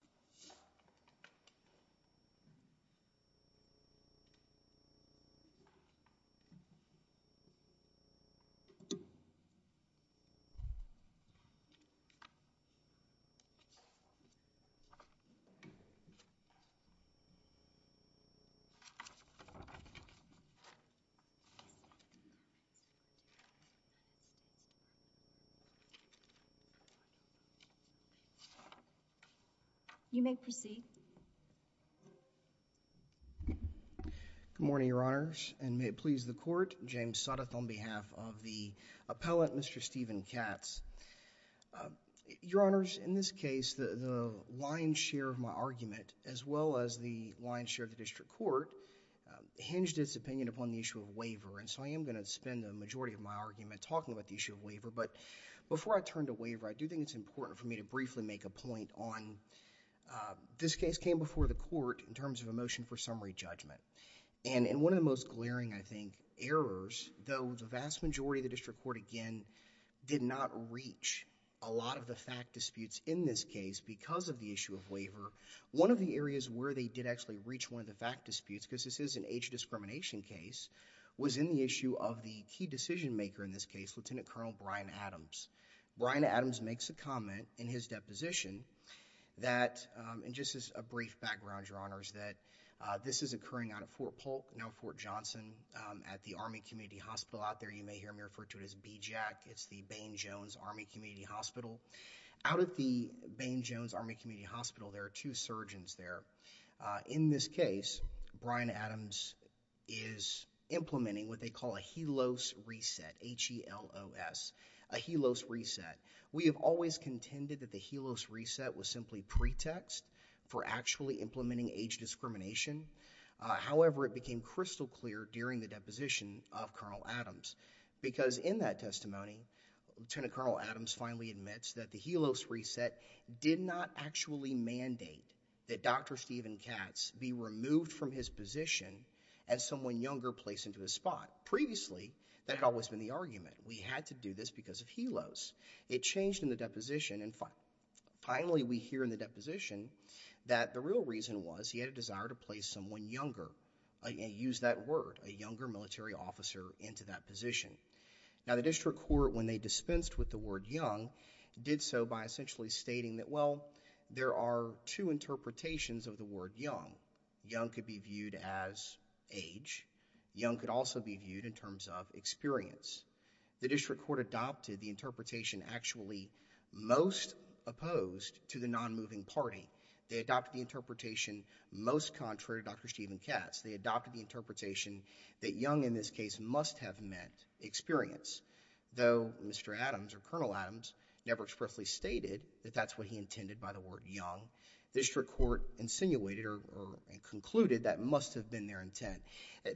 Hemsworth Good morning, Your Honors, and may it please the Court, James Suttoth on behalf of the appellate, Mr. Steven Katz. Your Honors, in this case, the lion's share of my argument, as well as the lion's share of the District Court, hinged its opinion upon the issue of waiver, and so I am going to spend the majority of my argument talking about the issue of waiver, but before I turn to waiver, I do think it's important for me to briefly make a point on, this case came before the Court in terms of a motion for summary judgment, and in one of the most glaring, I think, errors, though the vast majority of the District Court, again, did not reach a lot of the fact disputes in this case because of the issue of waiver, one of the areas where they did actually reach one of the fact disputes, because this is an age discrimination case, was in the issue of the key decision maker in this case, Lieutenant Colonel Brian Adams. Brian Adams makes a comment in his deposition that, and just as a brief background, Your Honors, that this is occurring out of Fort Polk, now Fort Johnson, at the Army Community Hospital out there, you may hear me refer to it as BJAC, it's the Bain Jones Army Community Hospital. Out at the Bain Jones Army Community Hospital, there are two surgeons there. In this case, Brian Adams is implementing what they call a helose reset, H-E-L-O-S, a helose reset. We have always contended that the helose reset was simply pretext for actually implementing age discrimination. However, it became crystal clear during the deposition of Colonel Adams, because in that testimony, Lieutenant Colonel Adams finally admits that the helose reset did not actually mandate that Dr. Steven Katz be removed from his position as someone younger placed into his spot. Previously, that had always been the argument. We had to do this because of helose. It changed in the deposition, and finally we hear in the deposition that the real reason was he had a desire to place someone younger, and use that word, a younger military officer into that position. Now, the district court, when they dispensed with the word young, did so by essentially stating that, well, there are two interpretations of the word young. Young could be viewed as age. Young could also be viewed in terms of experience. The district court adopted the interpretation actually most opposed to the non-moving party. They adopted the interpretation most contrary to Dr. Steven Katz. They adopted the interpretation that young, in this case, must have meant experience. Though Mr. Adams, or Colonel Adams, never expressly stated that that's what he intended by the word young, the district court insinuated or concluded that must have been their intent.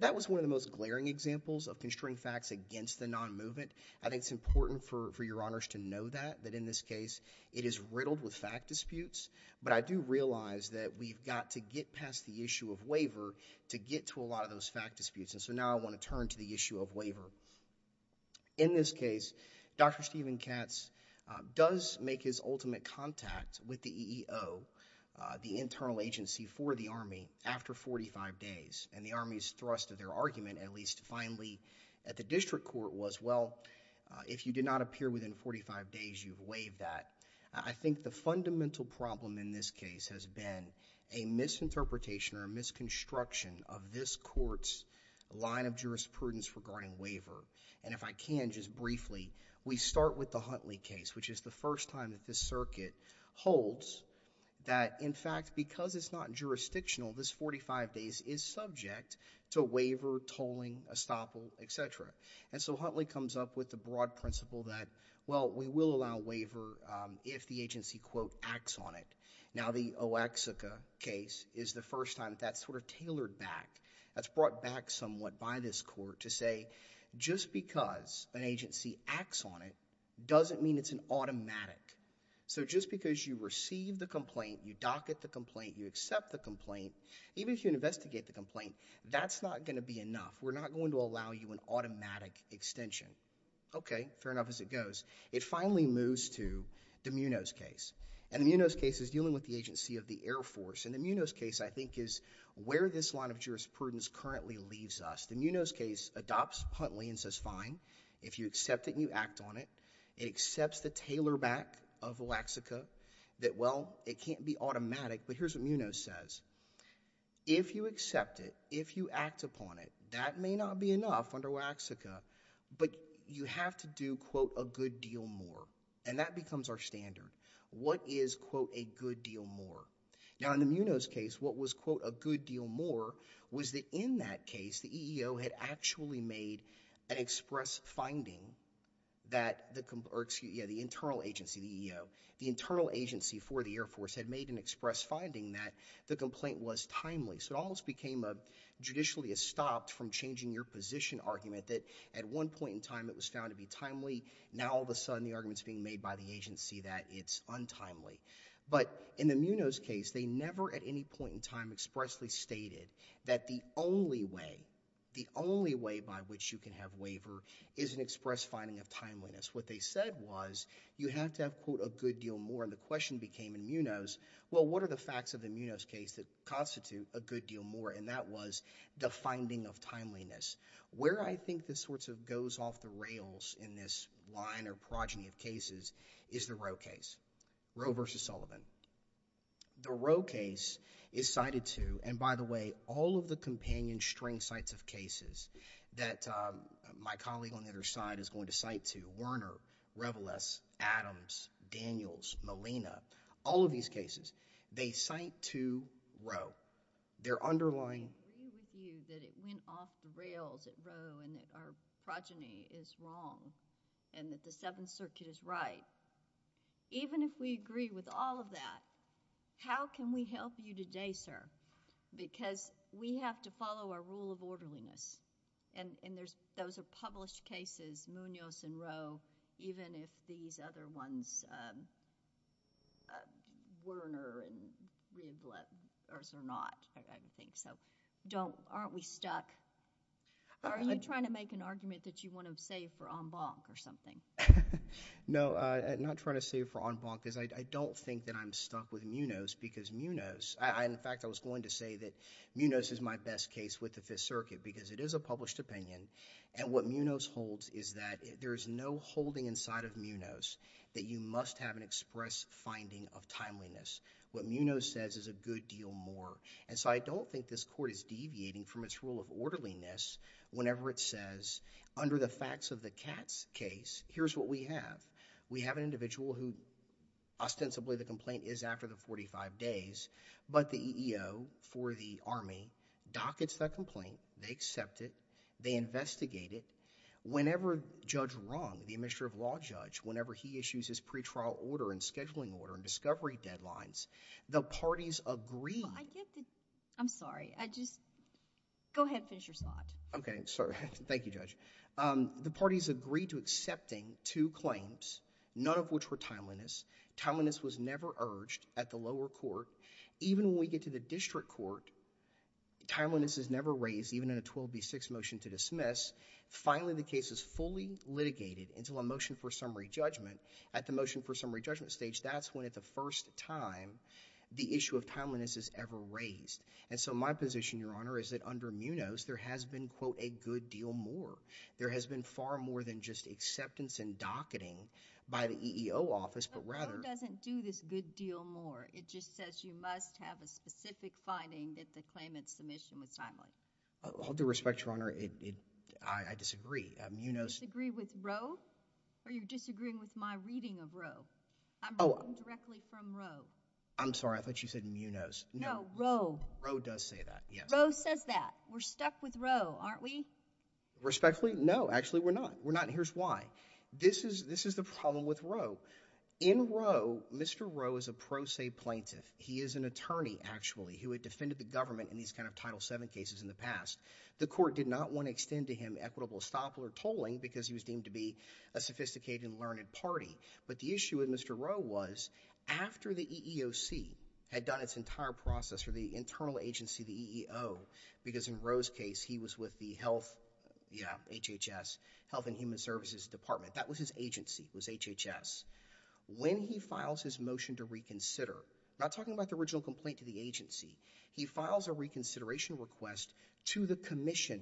That was one of the most glaring examples of constrained facts against the non-movement. I think it's important for your honors to know that, that in this case, it is riddled with fact disputes, but I do realize that we've got to get past the issue of waiver to get to a lot of those fact disputes, and so now I want to turn to the issue of waiver. In this case, Dr. Steven Katz does make his ultimate contact with the EEO, the internal agency for the Army, after 45 days, and the Army's thrust of their argument, at least finally at the district court, was, well, if you did not appear within 45 days, you've waived that. I think the fundamental problem in this case has been a misinterpretation or a misconstruction of this court's line of jurisprudence regarding waiver, and if I can, just briefly, we start with the Huntley case, which is the first time that this circuit holds that, in fact, because it's not jurisdictional, this 45 days is subject to waiver, tolling, estoppel, etc., and so Huntley comes up with the broad principle that, well, we will allow waiver if the agency, quote, acts on it. Now the Oaxaca case is the first time that that's sort of tailored back, that's brought back somewhat by this court to say, just because an agency acts on it, doesn't mean it's an automatic. So just because you receive the complaint, you docket the complaint, you accept the complaint, even if you investigate the complaint, that's not going to be enough. We're not going to allow you an automatic extension. Okay, fair enough as it goes. It finally moves to DeMuno's case, and DeMuno's case is dealing with the agency of the Air Force, and DeMuno's case, I think, is where this line of jurisprudence currently leaves us. DeMuno's case adopts Huntley and says, fine, if you accept it and you act on it, it accepts the tailor back of Oaxaca that, well, it can't be automatic, but here's what DeMuno says. If you accept it, if you act upon it, that may not be enough under Oaxaca, but you have to do, quote, a good deal more, and that becomes our standard. What is, quote, a good deal more? Now, in DeMuno's case, what was, quote, a good deal more was that in that case, the EEO had actually made an express finding that the internal agency, the EEO, the internal agency for the Air Force had made an express finding that the complaint was timely, so it almost became a judicially a stop from changing your position argument that at one point in time it was found to be timely, now all of a sudden the argument's being made by the agency that it's untimely. But in DeMuno's case, they never at any point in time expressly stated that the only way, the only way by which you can have waiver is an express finding of timeliness. What they said was you have to have, quote, a good deal more, and the question became in DeMuno's, well, what are the facts of DeMuno's case that constitute a good deal more, and that was the finding of timeliness. Where I think this sort of goes off the rails in this line or progeny of cases is the Roe case, Roe v. Sullivan. The Roe case is cited to, and by the way, all of the companion string sites of cases that my colleague on the other side is going to cite to, Werner, Reveless, Adams, Daniels, Molina, all of these cases, they cite to Roe. Their underlying... I agree with you that it went off the rails at Roe and that our progeny is wrong and that the Seventh Circuit is right. Even if we agree with all of that, how can we help you today, sir? Because we have to follow our rule of orderliness, and those are published cases, Munoz and Roe, even if these other ones, Werner and Reveless are not, I don't think, so don't... aren't we stuck? Are you trying to make an argument that you want to save for en banc or something? No, I'm not trying to save for en banc because I don't think that I'm stuck with Munoz because Munoz... in fact, I was going to say that Munoz is my best case with the Fifth Circuit because it is a published opinion, and what Munoz holds is that there is no holding inside of Munoz that you must have an express finding of timeliness. What Munoz says is a good deal more, and so I don't think this court is deviating from its rule of orderliness whenever it says, under the facts of the Katz case, here's what we have. We have an individual who ostensibly the complaint is after the forty-five days, but the EEO for the Army dockets that complaint, they accept it, they investigate it. Whenever Judge Rung, the Administrative Law Judge, whenever he issues his pre-trial order and scheduling order and discovery deadlines, the parties agree... I get the... I'm sorry, I just... go ahead and finish your slide. Okay, sorry. Thank you, Judge. The parties agree to accepting two claims, none of which were timeliness. Timeliness was never urged at the lower court. Even when we get to the district court, timeliness is never raised even in a 12B6 motion to dismiss. Finally, the case is fully litigated into a motion for summary judgment. At the motion for summary judgment stage, that's when, at the first time, the issue of timeliness is ever raised. And so my position, Your Honor, is that under Munoz, there has been, quote, a good deal more. There has been far more than just acceptance and docketing by the EEO office, but rather... The court doesn't do this good deal more. It just says you must have a specific finding that the claimant's submission was timely. I'll do respect, Your Honor. I disagree. Munoz... Disagree with Roe? Or you're disagreeing with my reading of Roe? I'm reading directly from Roe. I'm sorry. I thought you said Munoz. No. Roe. Roe does say that, yes. Roe says that. We're stuck with Roe, aren't we? Respectfully, no. Actually, we're not. We're not. And here's why. This is the problem with Roe. He is an attorney, actually, who had defended the government in these kind of Title VII cases in the past. The court did not want to extend to him equitable stop or tolling because he was deemed to be a sophisticated and learned party. But the issue with Mr. Roe was, after the EEOC had done its entire process for the internal agency, the EEO, because in Roe's case, he was with the Health... yeah, HHS, Health and Human Services Department. That was his agency. It was HHS. When he files his motion to reconsider, not talking about the original complaint to the commission,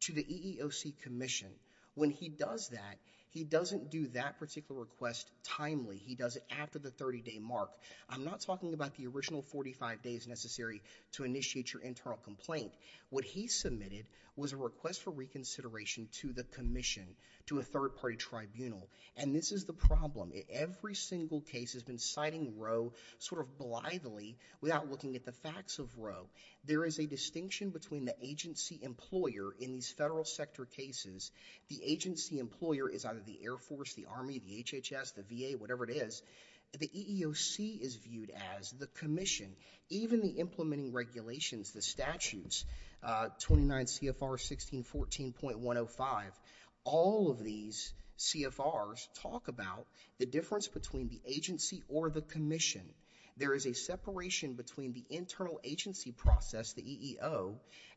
to the EEOC commission, when he does that, he doesn't do that particular request timely. He does it after the 30-day mark. I'm not talking about the original 45 days necessary to initiate your internal complaint. What he submitted was a request for reconsideration to the commission, to a third-party tribunal. And this is the problem. Every single case has been citing Roe sort of blithely without looking at the facts of Roe. There is a distinction between the agency employer in these federal sector cases. The agency employer is either the Air Force, the Army, the HHS, the VA, whatever it is. The EEOC is viewed as the commission. Even the implementing regulations, the statutes, 29 CFR 1614.105, all of these CFRs talk about the difference between the agency or the commission. There is a separation between the internal agency process, the EEO,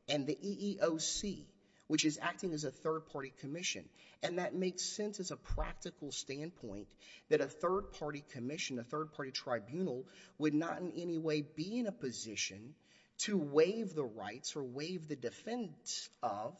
and the EEOC, which is acting as a third-party commission. And that makes sense as a practical standpoint that a third-party commission, a third-party tribunal would not in any way be in a position to waive the rights or waive the defense of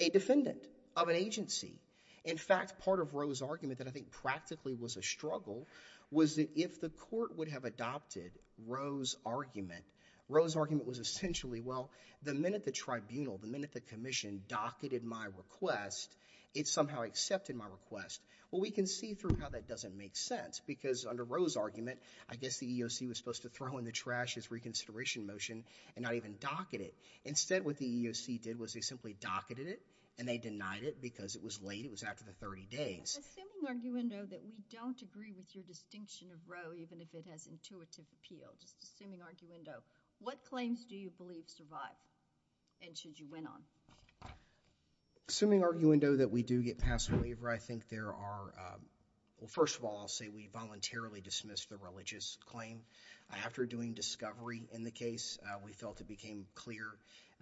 a defendant of an agency. In fact, part of Roe's argument that I think practically was a struggle was that if the EEOC had adopted Roe's argument, Roe's argument was essentially, well, the minute the tribunal, the minute the commission docketed my request, it somehow accepted my request. Well, we can see through how that doesn't make sense because under Roe's argument, I guess the EEOC was supposed to throw in the trash his reconsideration motion and not even docket it. Instead, what the EEOC did was they simply docketed it and they denied it because it was late. It was after the 30 days. Assuming, arguendo, that we don't agree with your distinction of Roe, even if it has intuitive appeal. Just assuming, arguendo, what claims do you believe survive and should you win on? Assuming, arguendo, that we do get past the waiver, I think there are, well, first of all, I'll say we voluntarily dismissed the religious claim. After doing discovery in the case, we felt it became clear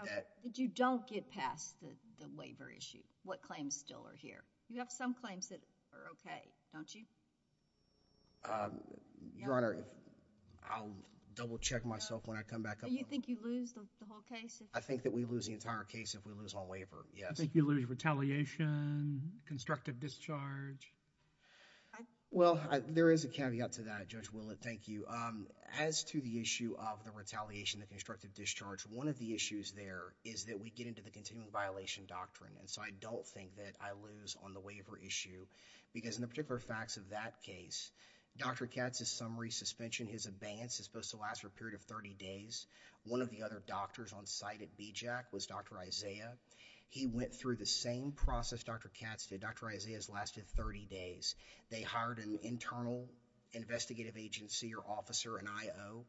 that... But you don't get past the waiver issue. What claims still are here? You have some claims that are okay, don't you? Your Honor, I'll double check myself when I come back up... Do you think you lose the whole case? I think that we lose the entire case if we lose all waiver, yes. Do you think you lose retaliation, constructive discharge? Well, there is a caveat to that, Judge Willard, thank you. As to the issue of the retaliation, the constructive discharge, one of the issues there is that we get into the continuing violation doctrine, and so I don't think that I lose on the waiver issue, because in the particular facts of that case, Dr. Katz's summary suspension, his abeyance is supposed to last for a period of thirty days. One of the other doctors on site at BJAC was Dr. Isaiah. He went through the same process Dr. Katz did, Dr. Isaiah's lasted thirty days. They hired an internal investigative agency or officer, an I.O.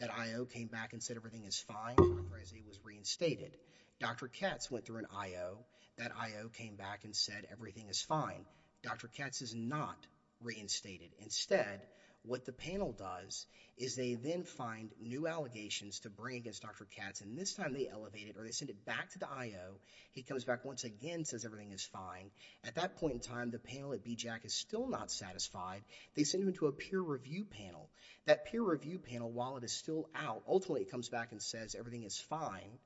That I.O. came back and said everything is fine, Dr. Isaiah was reinstated. Dr. Katz went through an I.O. That I.O. came back and said everything is fine, Dr. Katz is not reinstated. Instead, what the panel does is they then find new allegations to bring against Dr. Katz, and this time they elevate it, or they send it back to the I.O. He comes back once again, says everything is fine. At that point in time, the panel at BJAC is still not satisfied, they send him to a peer review panel. That peer review panel, while it is still out, ultimately it comes back and says everything is fine,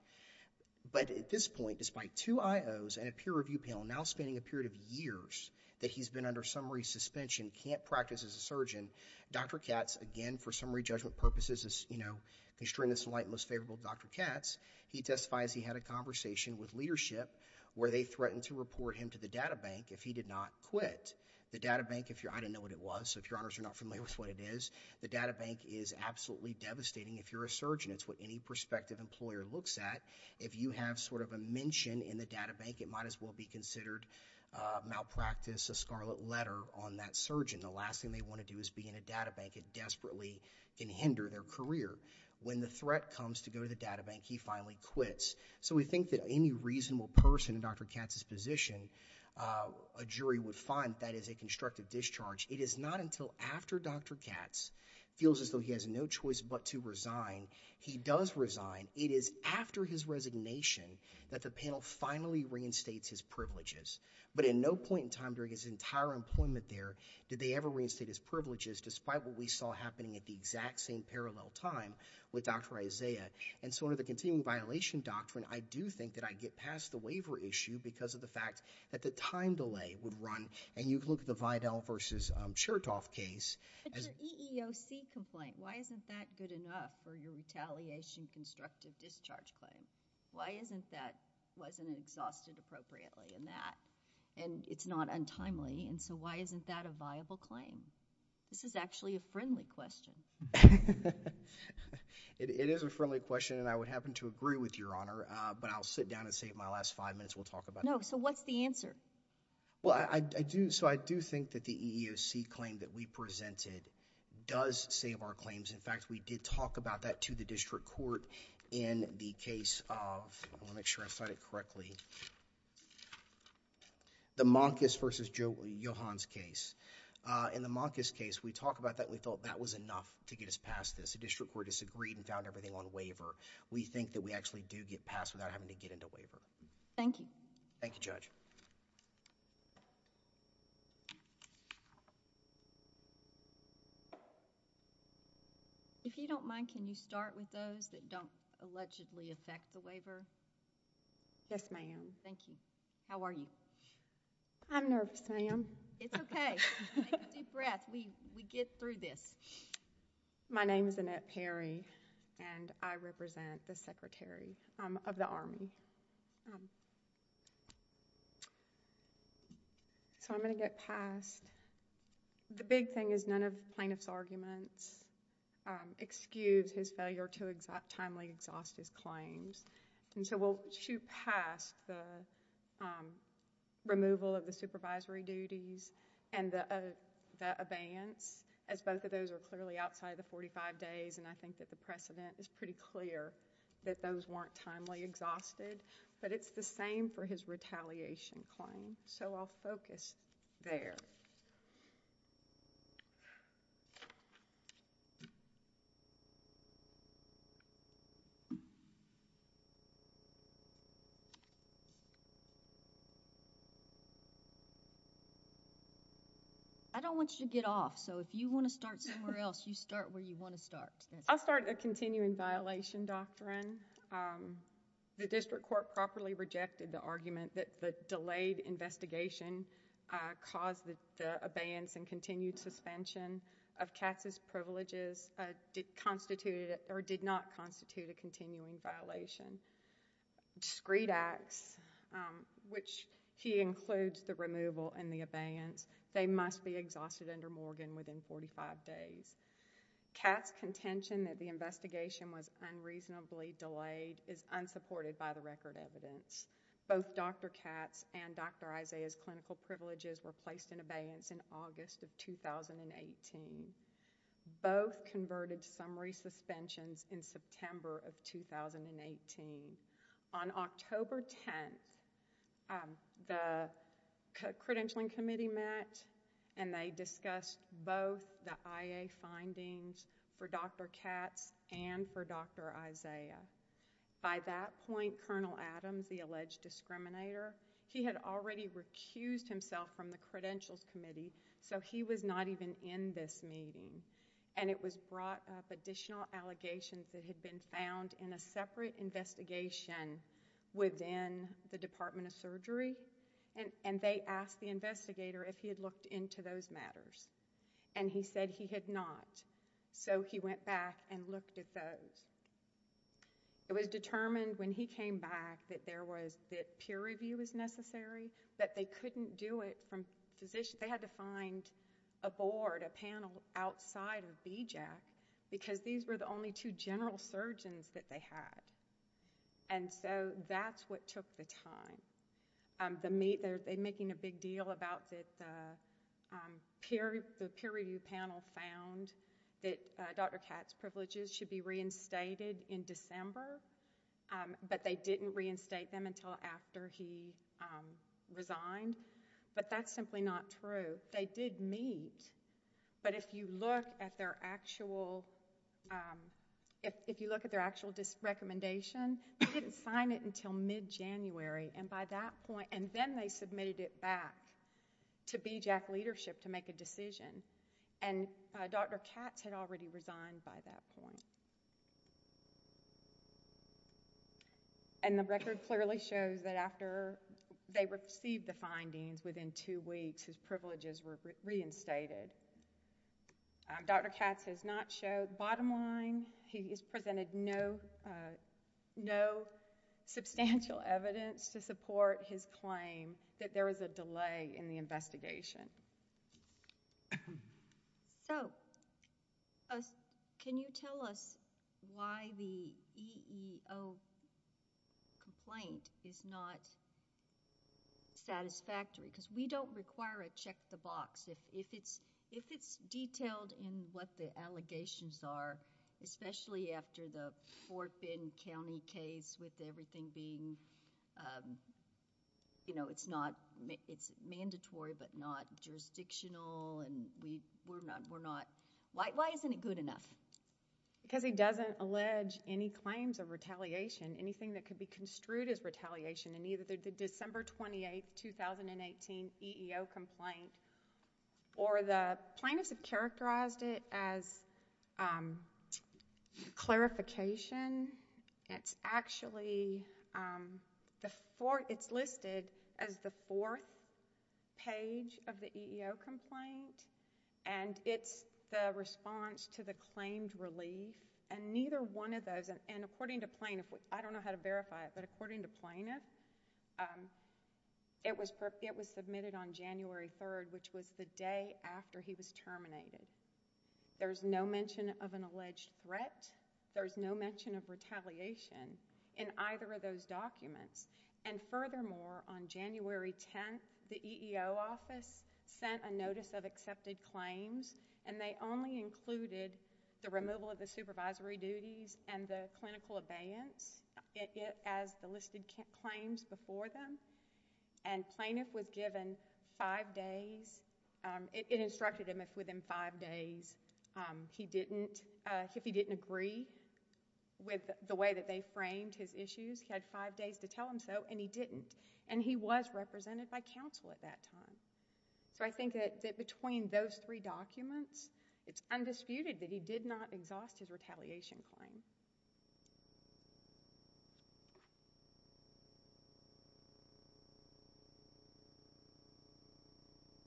but at this point, despite two I.O.s and a peer review panel, now spending a period of years that he's been under summary suspension, can't practice as a surgeon, Dr. Katz, again for summary judgment purposes, is, you know, constrained and most favorable to Dr. Katz. He testifies he had a conversation with leadership where they threatened to report him to the data bank if he did not quit. The data bank, I didn't know what it was, so if your honors are not familiar with what it is, the data bank is absolutely devastating if you're a surgeon. It's what any prospective employer looks at. If you have sort of a mention in the data bank, it might as well be considered malpractice, a scarlet letter on that surgeon. The last thing they want to do is be in a data bank, it desperately can hinder their career. When the threat comes to go to the data bank, he finally quits. So we think that any reasonable person in Dr. Katz's position, a jury would find that is a constructive discharge. It is not until after Dr. Katz feels as though he has no choice but to resign, he does resign. It is after his resignation that the panel finally reinstates his privileges. But in no point in time during his entire employment there did they ever reinstate his privileges despite what we saw happening at the exact same parallel time with Dr. Isaiah. And so under the continuing violation doctrine, I do think that I get past the waiver issue because of the fact that the time delay would run and you look at the Vidal versus Chertoff case. It's an EEOC complaint. Why isn't that good enough for your retaliation constructive discharge claim? Why isn't that wasn't exhausted appropriately in that? And it's not untimely. And so why isn't that a viable claim? This is actually a friendly question. It is a friendly question and I would happen to agree with Your Honor. I think it's a good question. I think it's a good question. I think it's a good question. No. So what's the answer? Well, I do. So I do think that the EEOC claim that we presented does save our claims. In fact, we did talk about that to the district court in the case of, let me make sure I cite it correctly, the Monkis versus Johans case. In the Monkis case, we talked about that and we thought that was enough to get us past this. The district court disagreed and found everything on waiver. We think that we actually do get past without having to get into waiver. Thank you. Thank you, Judge. If you don't mind, can you start with those that don't allegedly affect the waiver? Yes, ma'am. Thank you. How are you? I'm nervous, ma'am. It's okay. Take a deep breath. We get through this. My name is Annette Perry and I represent the Secretary of the Army. So I'm going to get past. The big thing is none of the plaintiff's arguments excuse his failure to timely exhaust his claims. So we'll shoot past the removal of the supervisory duties and the abeyance, as both of those are clearly outside of the 45 days and I think that the precedent is pretty clear that those weren't timely exhausted. But it's the same for his retaliation claim. So I'll focus there. I don't want you to get off, so if you want to start somewhere else, you start where you want to start. I'll start a continuing violation doctrine. The district court properly rejected the argument that the delayed investigation caused the abeyance and continued suspension of Katz's privileges did not constitute a continuing violation. Discreet acts, which he includes the removal and the abeyance, they must be exhausted under Morgan within 45 days. Katz's contention that the investigation was unreasonably delayed is unsupported by the record evidence. In August of 2018, both Dr. Katz and Dr. Isaiah's clinical privileges were placed in abeyance in August of 2018. Both converted summary suspensions in September of 2018. On October 10th, the credentialing committee met and they discussed both the IA findings for Dr. Katz and for Dr. Isaiah. By that point, Colonel Adams, the alleged discriminator, he had already recused himself from the credentials committee, so he was not even in this meeting. It was brought up additional allegations that had been found in a separate investigation within the Department of Surgery and they asked the investigator if he had looked into those matters. He said he had not, so he went back and looked at those. It was determined when he came back that peer review was necessary, that they couldn't do it from physician. They had to find a board, a panel outside of BJAC because these were the only two general surgeons that they had. That's what took the time. They're making a big deal about that the peer review panel found that Dr. Katz's privileges should be reinstated in December, but they didn't reinstate them until after he resigned. That's simply not true. They did meet, but if you look at their actual, if you look at their actual recommendation, they didn't sign it until mid-January and by that point, and then they submitted it back to BJAC leadership to make a decision. Dr. Katz had already resigned by that point. The record clearly shows that after they received the findings within two weeks, his privileges were reinstated. Dr. Katz has not showed, bottom line, he has presented no substantial evidence to support his claim that there was a delay in the investigation. Can you tell us why the EEO complaint is not satisfactory? Because we don't require a check the box. If it's detailed in what the allegations are, especially after the Fort Bend County case with everything being, you know, it's not, it's mandatory but not jurisdictional and we're not, we're not, why isn't it good enough? Because he doesn't allege any claims of retaliation, anything that could be construed as retaliation in either the December 28, 2018 EEO complaint or the plaintiffs have characterized it as retaliation. Clarification, it's actually, the fourth, it's listed as the fourth page of the EEO complaint and it's the response to the claimed relief and neither one of those, and according to plaintiff, I don't know how to verify it, but according to plaintiff, it was submitted on January 3rd, which was the day after he was terminated. There's no mention of an alleged threat. There's no mention of retaliation in either of those documents and furthermore, on January 10th, the EEO office sent a notice of accepted claims and they only included the removal of the supervisory duties and the clinical abeyance as the listed claims before them and plaintiff was given five days, it instructed him if within five days he didn't, if he didn't agree with the way that they framed his issues, he had five days to tell them so and he didn't and he was represented by counsel at that time. So I think that between those three documents, it's undisputed that he did not exhaust his retaliation claim.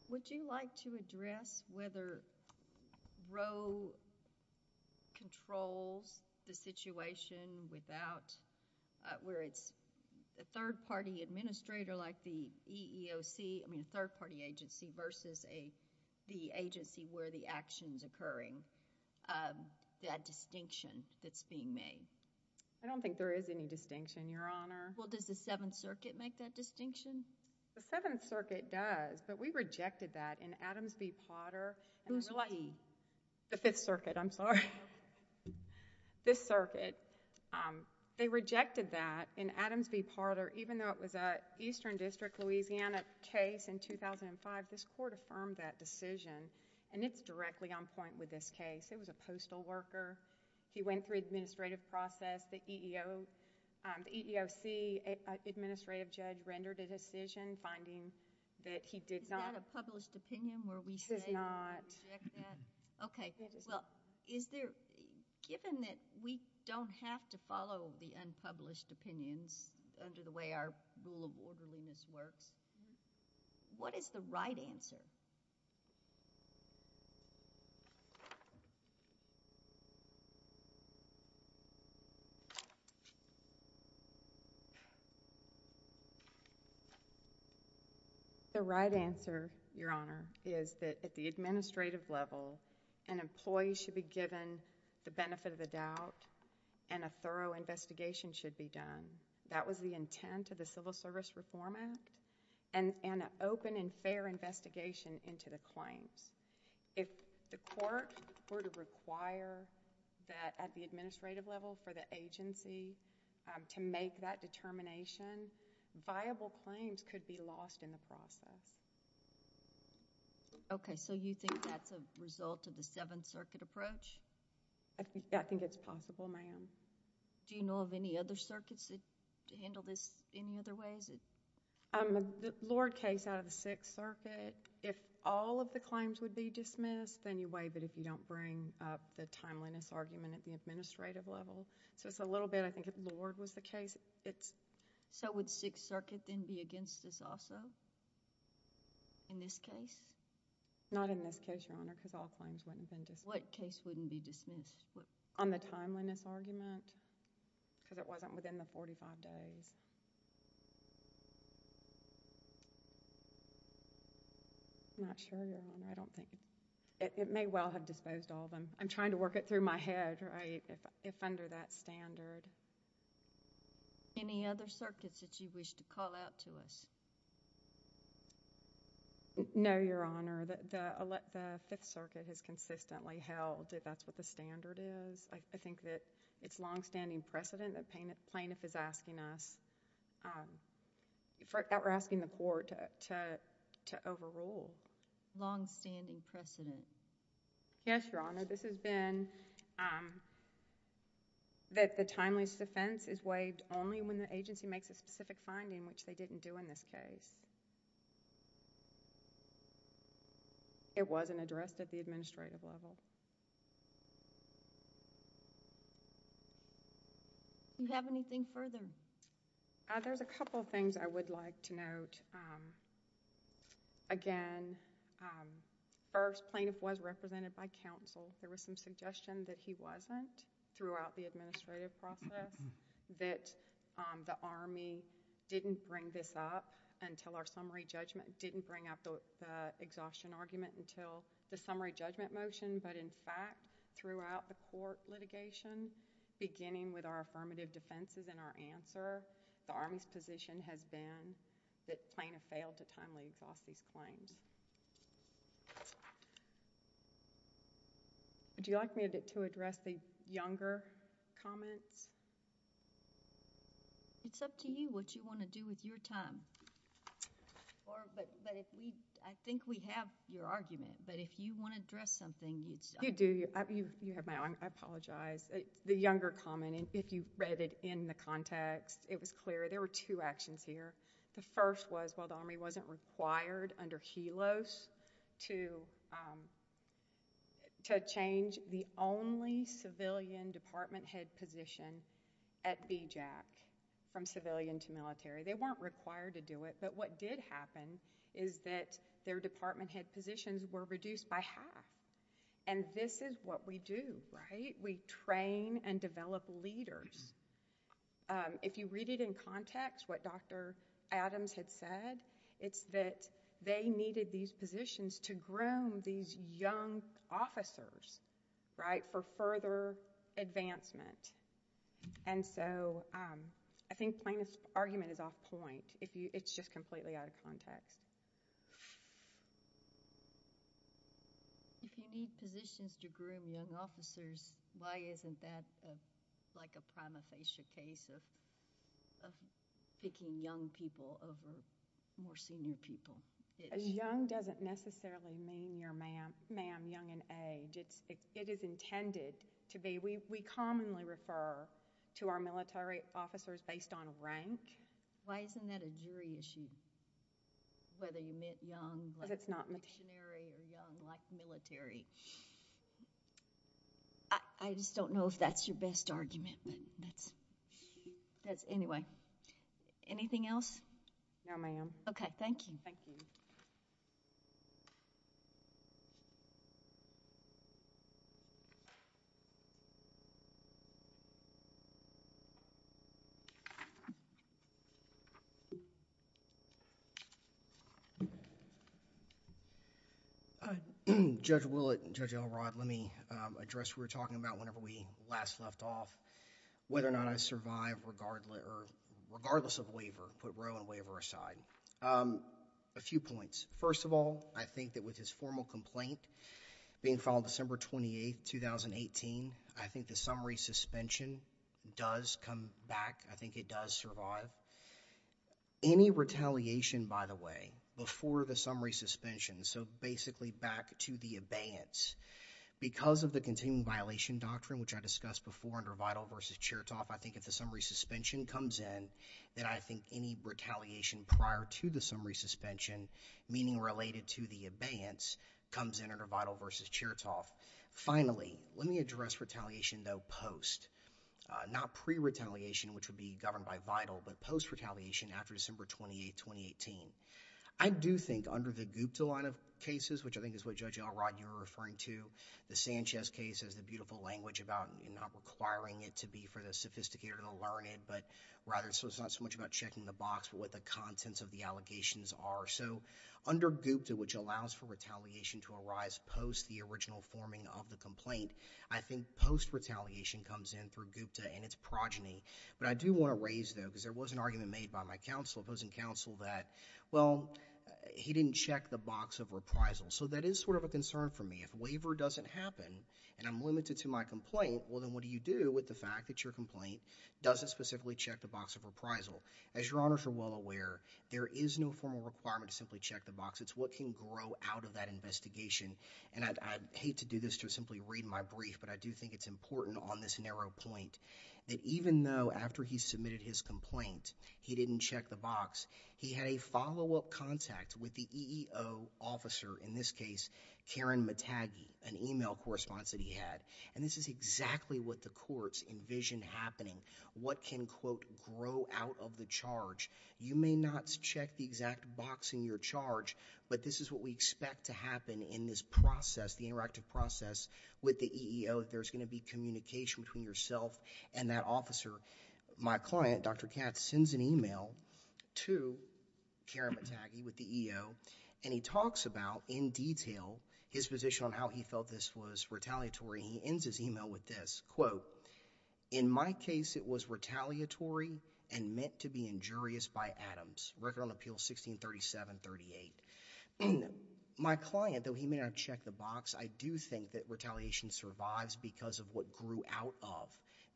Would you like to address whether Roe controls the situation without, where it's a third party administrator like the EEOC, I mean a third party agency versus the agency where the action is occurring, that distinction that's being made? I don't think there is any distinction, Your Honor. Well, does the Seventh Circuit make that distinction? The Seventh Circuit does, but we rejected that in Adams v. Potter. Who's he? The Fifth Circuit, I'm sorry. This circuit, they rejected that in Adams v. Potter even though it was an Eastern District, Louisiana case in 2005, this court affirmed that decision and it's directly on point with this case. It was a postal worker. He went through administrative process. The EEOC administrative judge rendered a decision finding that he did not... Is that a published opinion where we say... It is not. Okay. Well, given that we don't have to follow the unpublished opinions under the way our rule of orderliness works, what is the right answer? The right answer, Your Honor, is that at the administrative level, an employee should be given the benefit of the doubt and a thorough investigation should be done. That was the intent of the Civil Service Reform Act and an open and fair investigation into the claims. If the court were to require that at the administrative level for the agency to make that determination, viable claims could be lost in the process. Okay. You think that's a result of the Seventh Circuit approach? I think it's possible, ma'am. Do you know of any other circuits that handle this any other way? The Lord case out of the Sixth Circuit, if all of the claims would be dismissed anyway, but if you don't bring up the timeliness argument at the administrative level, so it's a little bit... I think if Lord was the case, it's... So would Sixth Circuit then be against this also in this case? Not in this case, Your Honor, because all claims wouldn't have been dismissed. What case wouldn't be dismissed? On the timeliness argument because it wasn't within the forty-five days. I'm not sure, Your Honor. I don't think... It may well have disposed all of them. I'm trying to work it through my head if under that standard. Any other circuits that you wish to call out to us? No, Your Honor. The Fifth Circuit has consistently held that that's what the standard is. I think that it's longstanding precedent that plaintiff is asking us... that we're asking the court to overrule. Longstanding precedent? Yes, Your Honor. This has been that the timeliness defense is waived only when the agency makes a specific finding which they didn't do in this case. It wasn't addressed at the administrative level. Do you have anything further? There's a couple of things I would like to note. Again, first, plaintiff was represented by counsel. There was some suggestion that he wasn't throughout the administrative process, that the Army didn't bring this up until our summary judgment. Didn't bring up the exhaustion argument until the summary judgment motion, but in fact, throughout the court litigation, beginning with our affirmative defenses and our answer, the Army's position has been that plaintiff failed to timely exhaust these claims. Would you like me to address the younger comments? It's up to you what you want to do with your time. I think we have your argument, but if you want to address something... You do. I apologize. The younger comment, if you read it in the context, it was clear. There were two actions here. The first was, while the Army wasn't required under HELOS to change the only civilian department head position at BJAC, from civilian to military, they weren't required to do it, but what did happen is that their department head positions were reduced by half, and this is what we do, right? We train and develop leaders. If you read it in context, what Dr. Adams had said, it's that they needed these positions to groom these young officers for further advancement. I think plaintiff's argument is off point. It's just completely out of context. If you need positions to groom young officers, why isn't that a prima facie case of picking young people over more senior people? Young doesn't necessarily mean you're ma'am young in age. It is intended to be. We commonly refer to our military officers based on rank. Why isn't that a jury issue? Whether you meant young like missionary or young like military? I just don't know if that's your best argument, but that's... Anyway, anything else? No, ma'am. Okay, thank you. Thank you. Judge Willett and Judge Elrod, let me address what we were talking about whenever we last left off, whether or not I survive regardless of waiver, put row and waiver aside. A few points. First of all, I think that with his formal complaint being filed December 28th, 2018, I think the summary suspension does come back. I think it does survive. Any retaliation, by the way, before the summary suspension, so basically back to the abeyance. Because of the continuing violation doctrine, which I discussed before under Vital versus Chertoff, I think if the summary suspension comes in, then I think any retaliation prior to the summary suspension, meaning related to the abeyance, comes in under Vital versus Chertoff. Finally, let me address retaliation, though, post. Not pre-retaliation, which would be governed by Vital, but post-retaliation after December 28th, 2018. I do think under the GUPTA line of cases, which I think is what Judge Elrod, you were referring to, the Sanchez case is the beautiful language about not requiring it to be for the sophisticated to learn it, but rather it's not so much about checking the box, but what the contents of the allegations are. Under GUPTA, which allows for retaliation to arise post the original forming of the complaint, I think post-retaliation comes in through GUPTA and its progeny. I do want to raise, though, because there was an argument made by my counsel, opposing counsel, that he didn't check the box of reprisal. That is sort of a concern for me. If waiver doesn't happen, and I'm limited to my complaint, then what do you do with the fact that your complaint doesn't specifically check the box of reprisal? As your honors are well aware, there is no formal requirement to simply check the box. It's what can grow out of that investigation. I'd hate to do this to simply read my brief, but I do think it's important on this narrow point that even though after he submitted his complaint, he didn't check the box. He had a follow-up contact with the EEO officer, in this case, Karen Matagi, an email correspondence that he had. This is exactly what the courts envisioned happening. What can, quote, grow out of the charge? You may not check the exact box in your charge, but this is what we expect to happen in this process, the interactive process with the EEO. There's going to be communication between yourself and that officer. My client, Dr. Katz, sends an email to Karen Matagi with the EEO, and he talks about, in detail, his position on how he felt this was retaliatory, and he ends his email with this, quote, In my case, it was retaliatory and meant to be injurious by Adams. Record on Appeal 1637-38. My client, though he may not have checked the box, I do think that retaliation survives because of what grew out of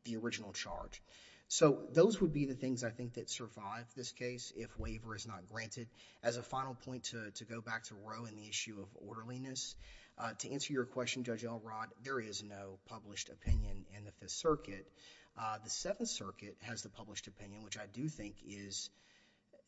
the original charge. Those would be the things, I think, that survive this case if waiver is not granted. As a final point to go back to Roe and the issue of orderliness, to answer your question, Judge Elrod, there is no published opinion in the Fifth Circuit. The Seventh Circuit has the published opinion, which I do think is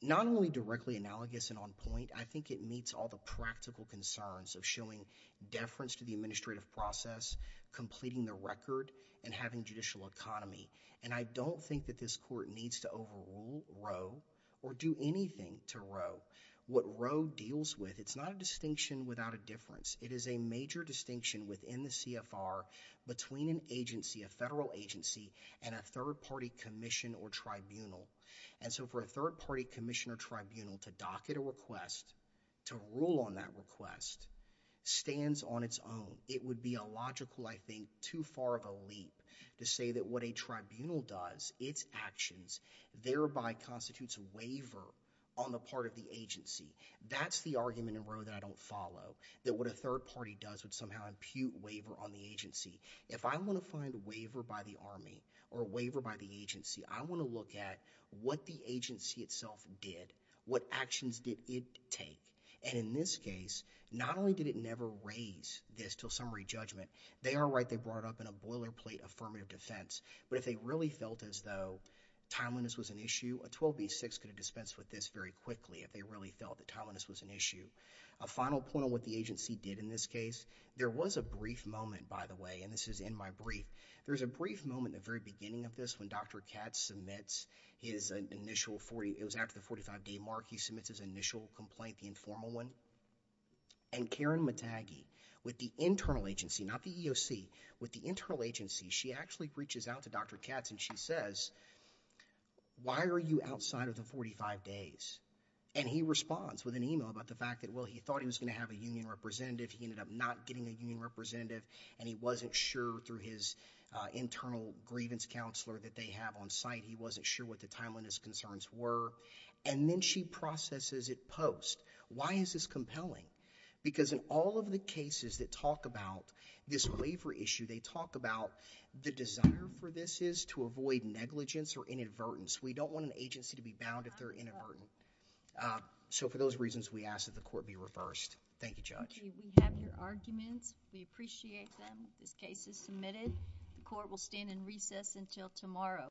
not only directly analogous and on point, I think it meets all the practical concerns of showing deference to the administrative process, completing the record, and having judicial economy. I don't think that this Court needs to overrule Roe or do anything to Roe. What Roe deals with, it's not a distinction without a difference. It is a major distinction within the CFR between an agency, a federal agency, and a third-party commission or tribunal. For a third-party commission or tribunal to docket a request, to rule on that request, stands on its own. It would be illogical, I think, too far of a leap to say that what a tribunal does, its actions, thereby constitutes a waiver on the part of the agency. That's the argument in Roe that I don't follow, that what a third-party does would somehow impute waiver on the agency. If I want to find a waiver by the Army or a waiver by the agency, I want to look at what the agency itself did, what actions did it take, and in this case, not only did it never raise this to a summary judgment, they are right, they brought up in a boilerplate affirmative defense. But if they really felt as though timeliness was an issue, a 12B6 could have dispensed with this very quickly if they really felt that timeliness was an issue. A final point on what the agency did in this case, there was a brief moment, by the way, and this is in my brief, there's a brief moment at the very beginning of this when Dr. Katz submits his initial, it was after the 45-day mark, he submits his initial complaint, the informal one, and Karen Matagi, with the internal agency, not the EOC, with the internal agency, she actually reaches out to Dr. Katz and she says, why are you outside of the 45 days? And he responds with an email about the fact that, well, he thought he was going to have a union representative, he ended up not getting a union representative, and he wasn't sure through his internal grievance counselor that they have on site, he wasn't sure what the timeliness concerns were, and then she processes it post. Why is this compelling? Because in all of the cases that talk about this waiver issue, they talk about the desire for this is to avoid negligence or inadvertence. We don't want an agency to be bound if they're inadvertent. So for those reasons, we ask that the court be reversed. Thank you, Judge.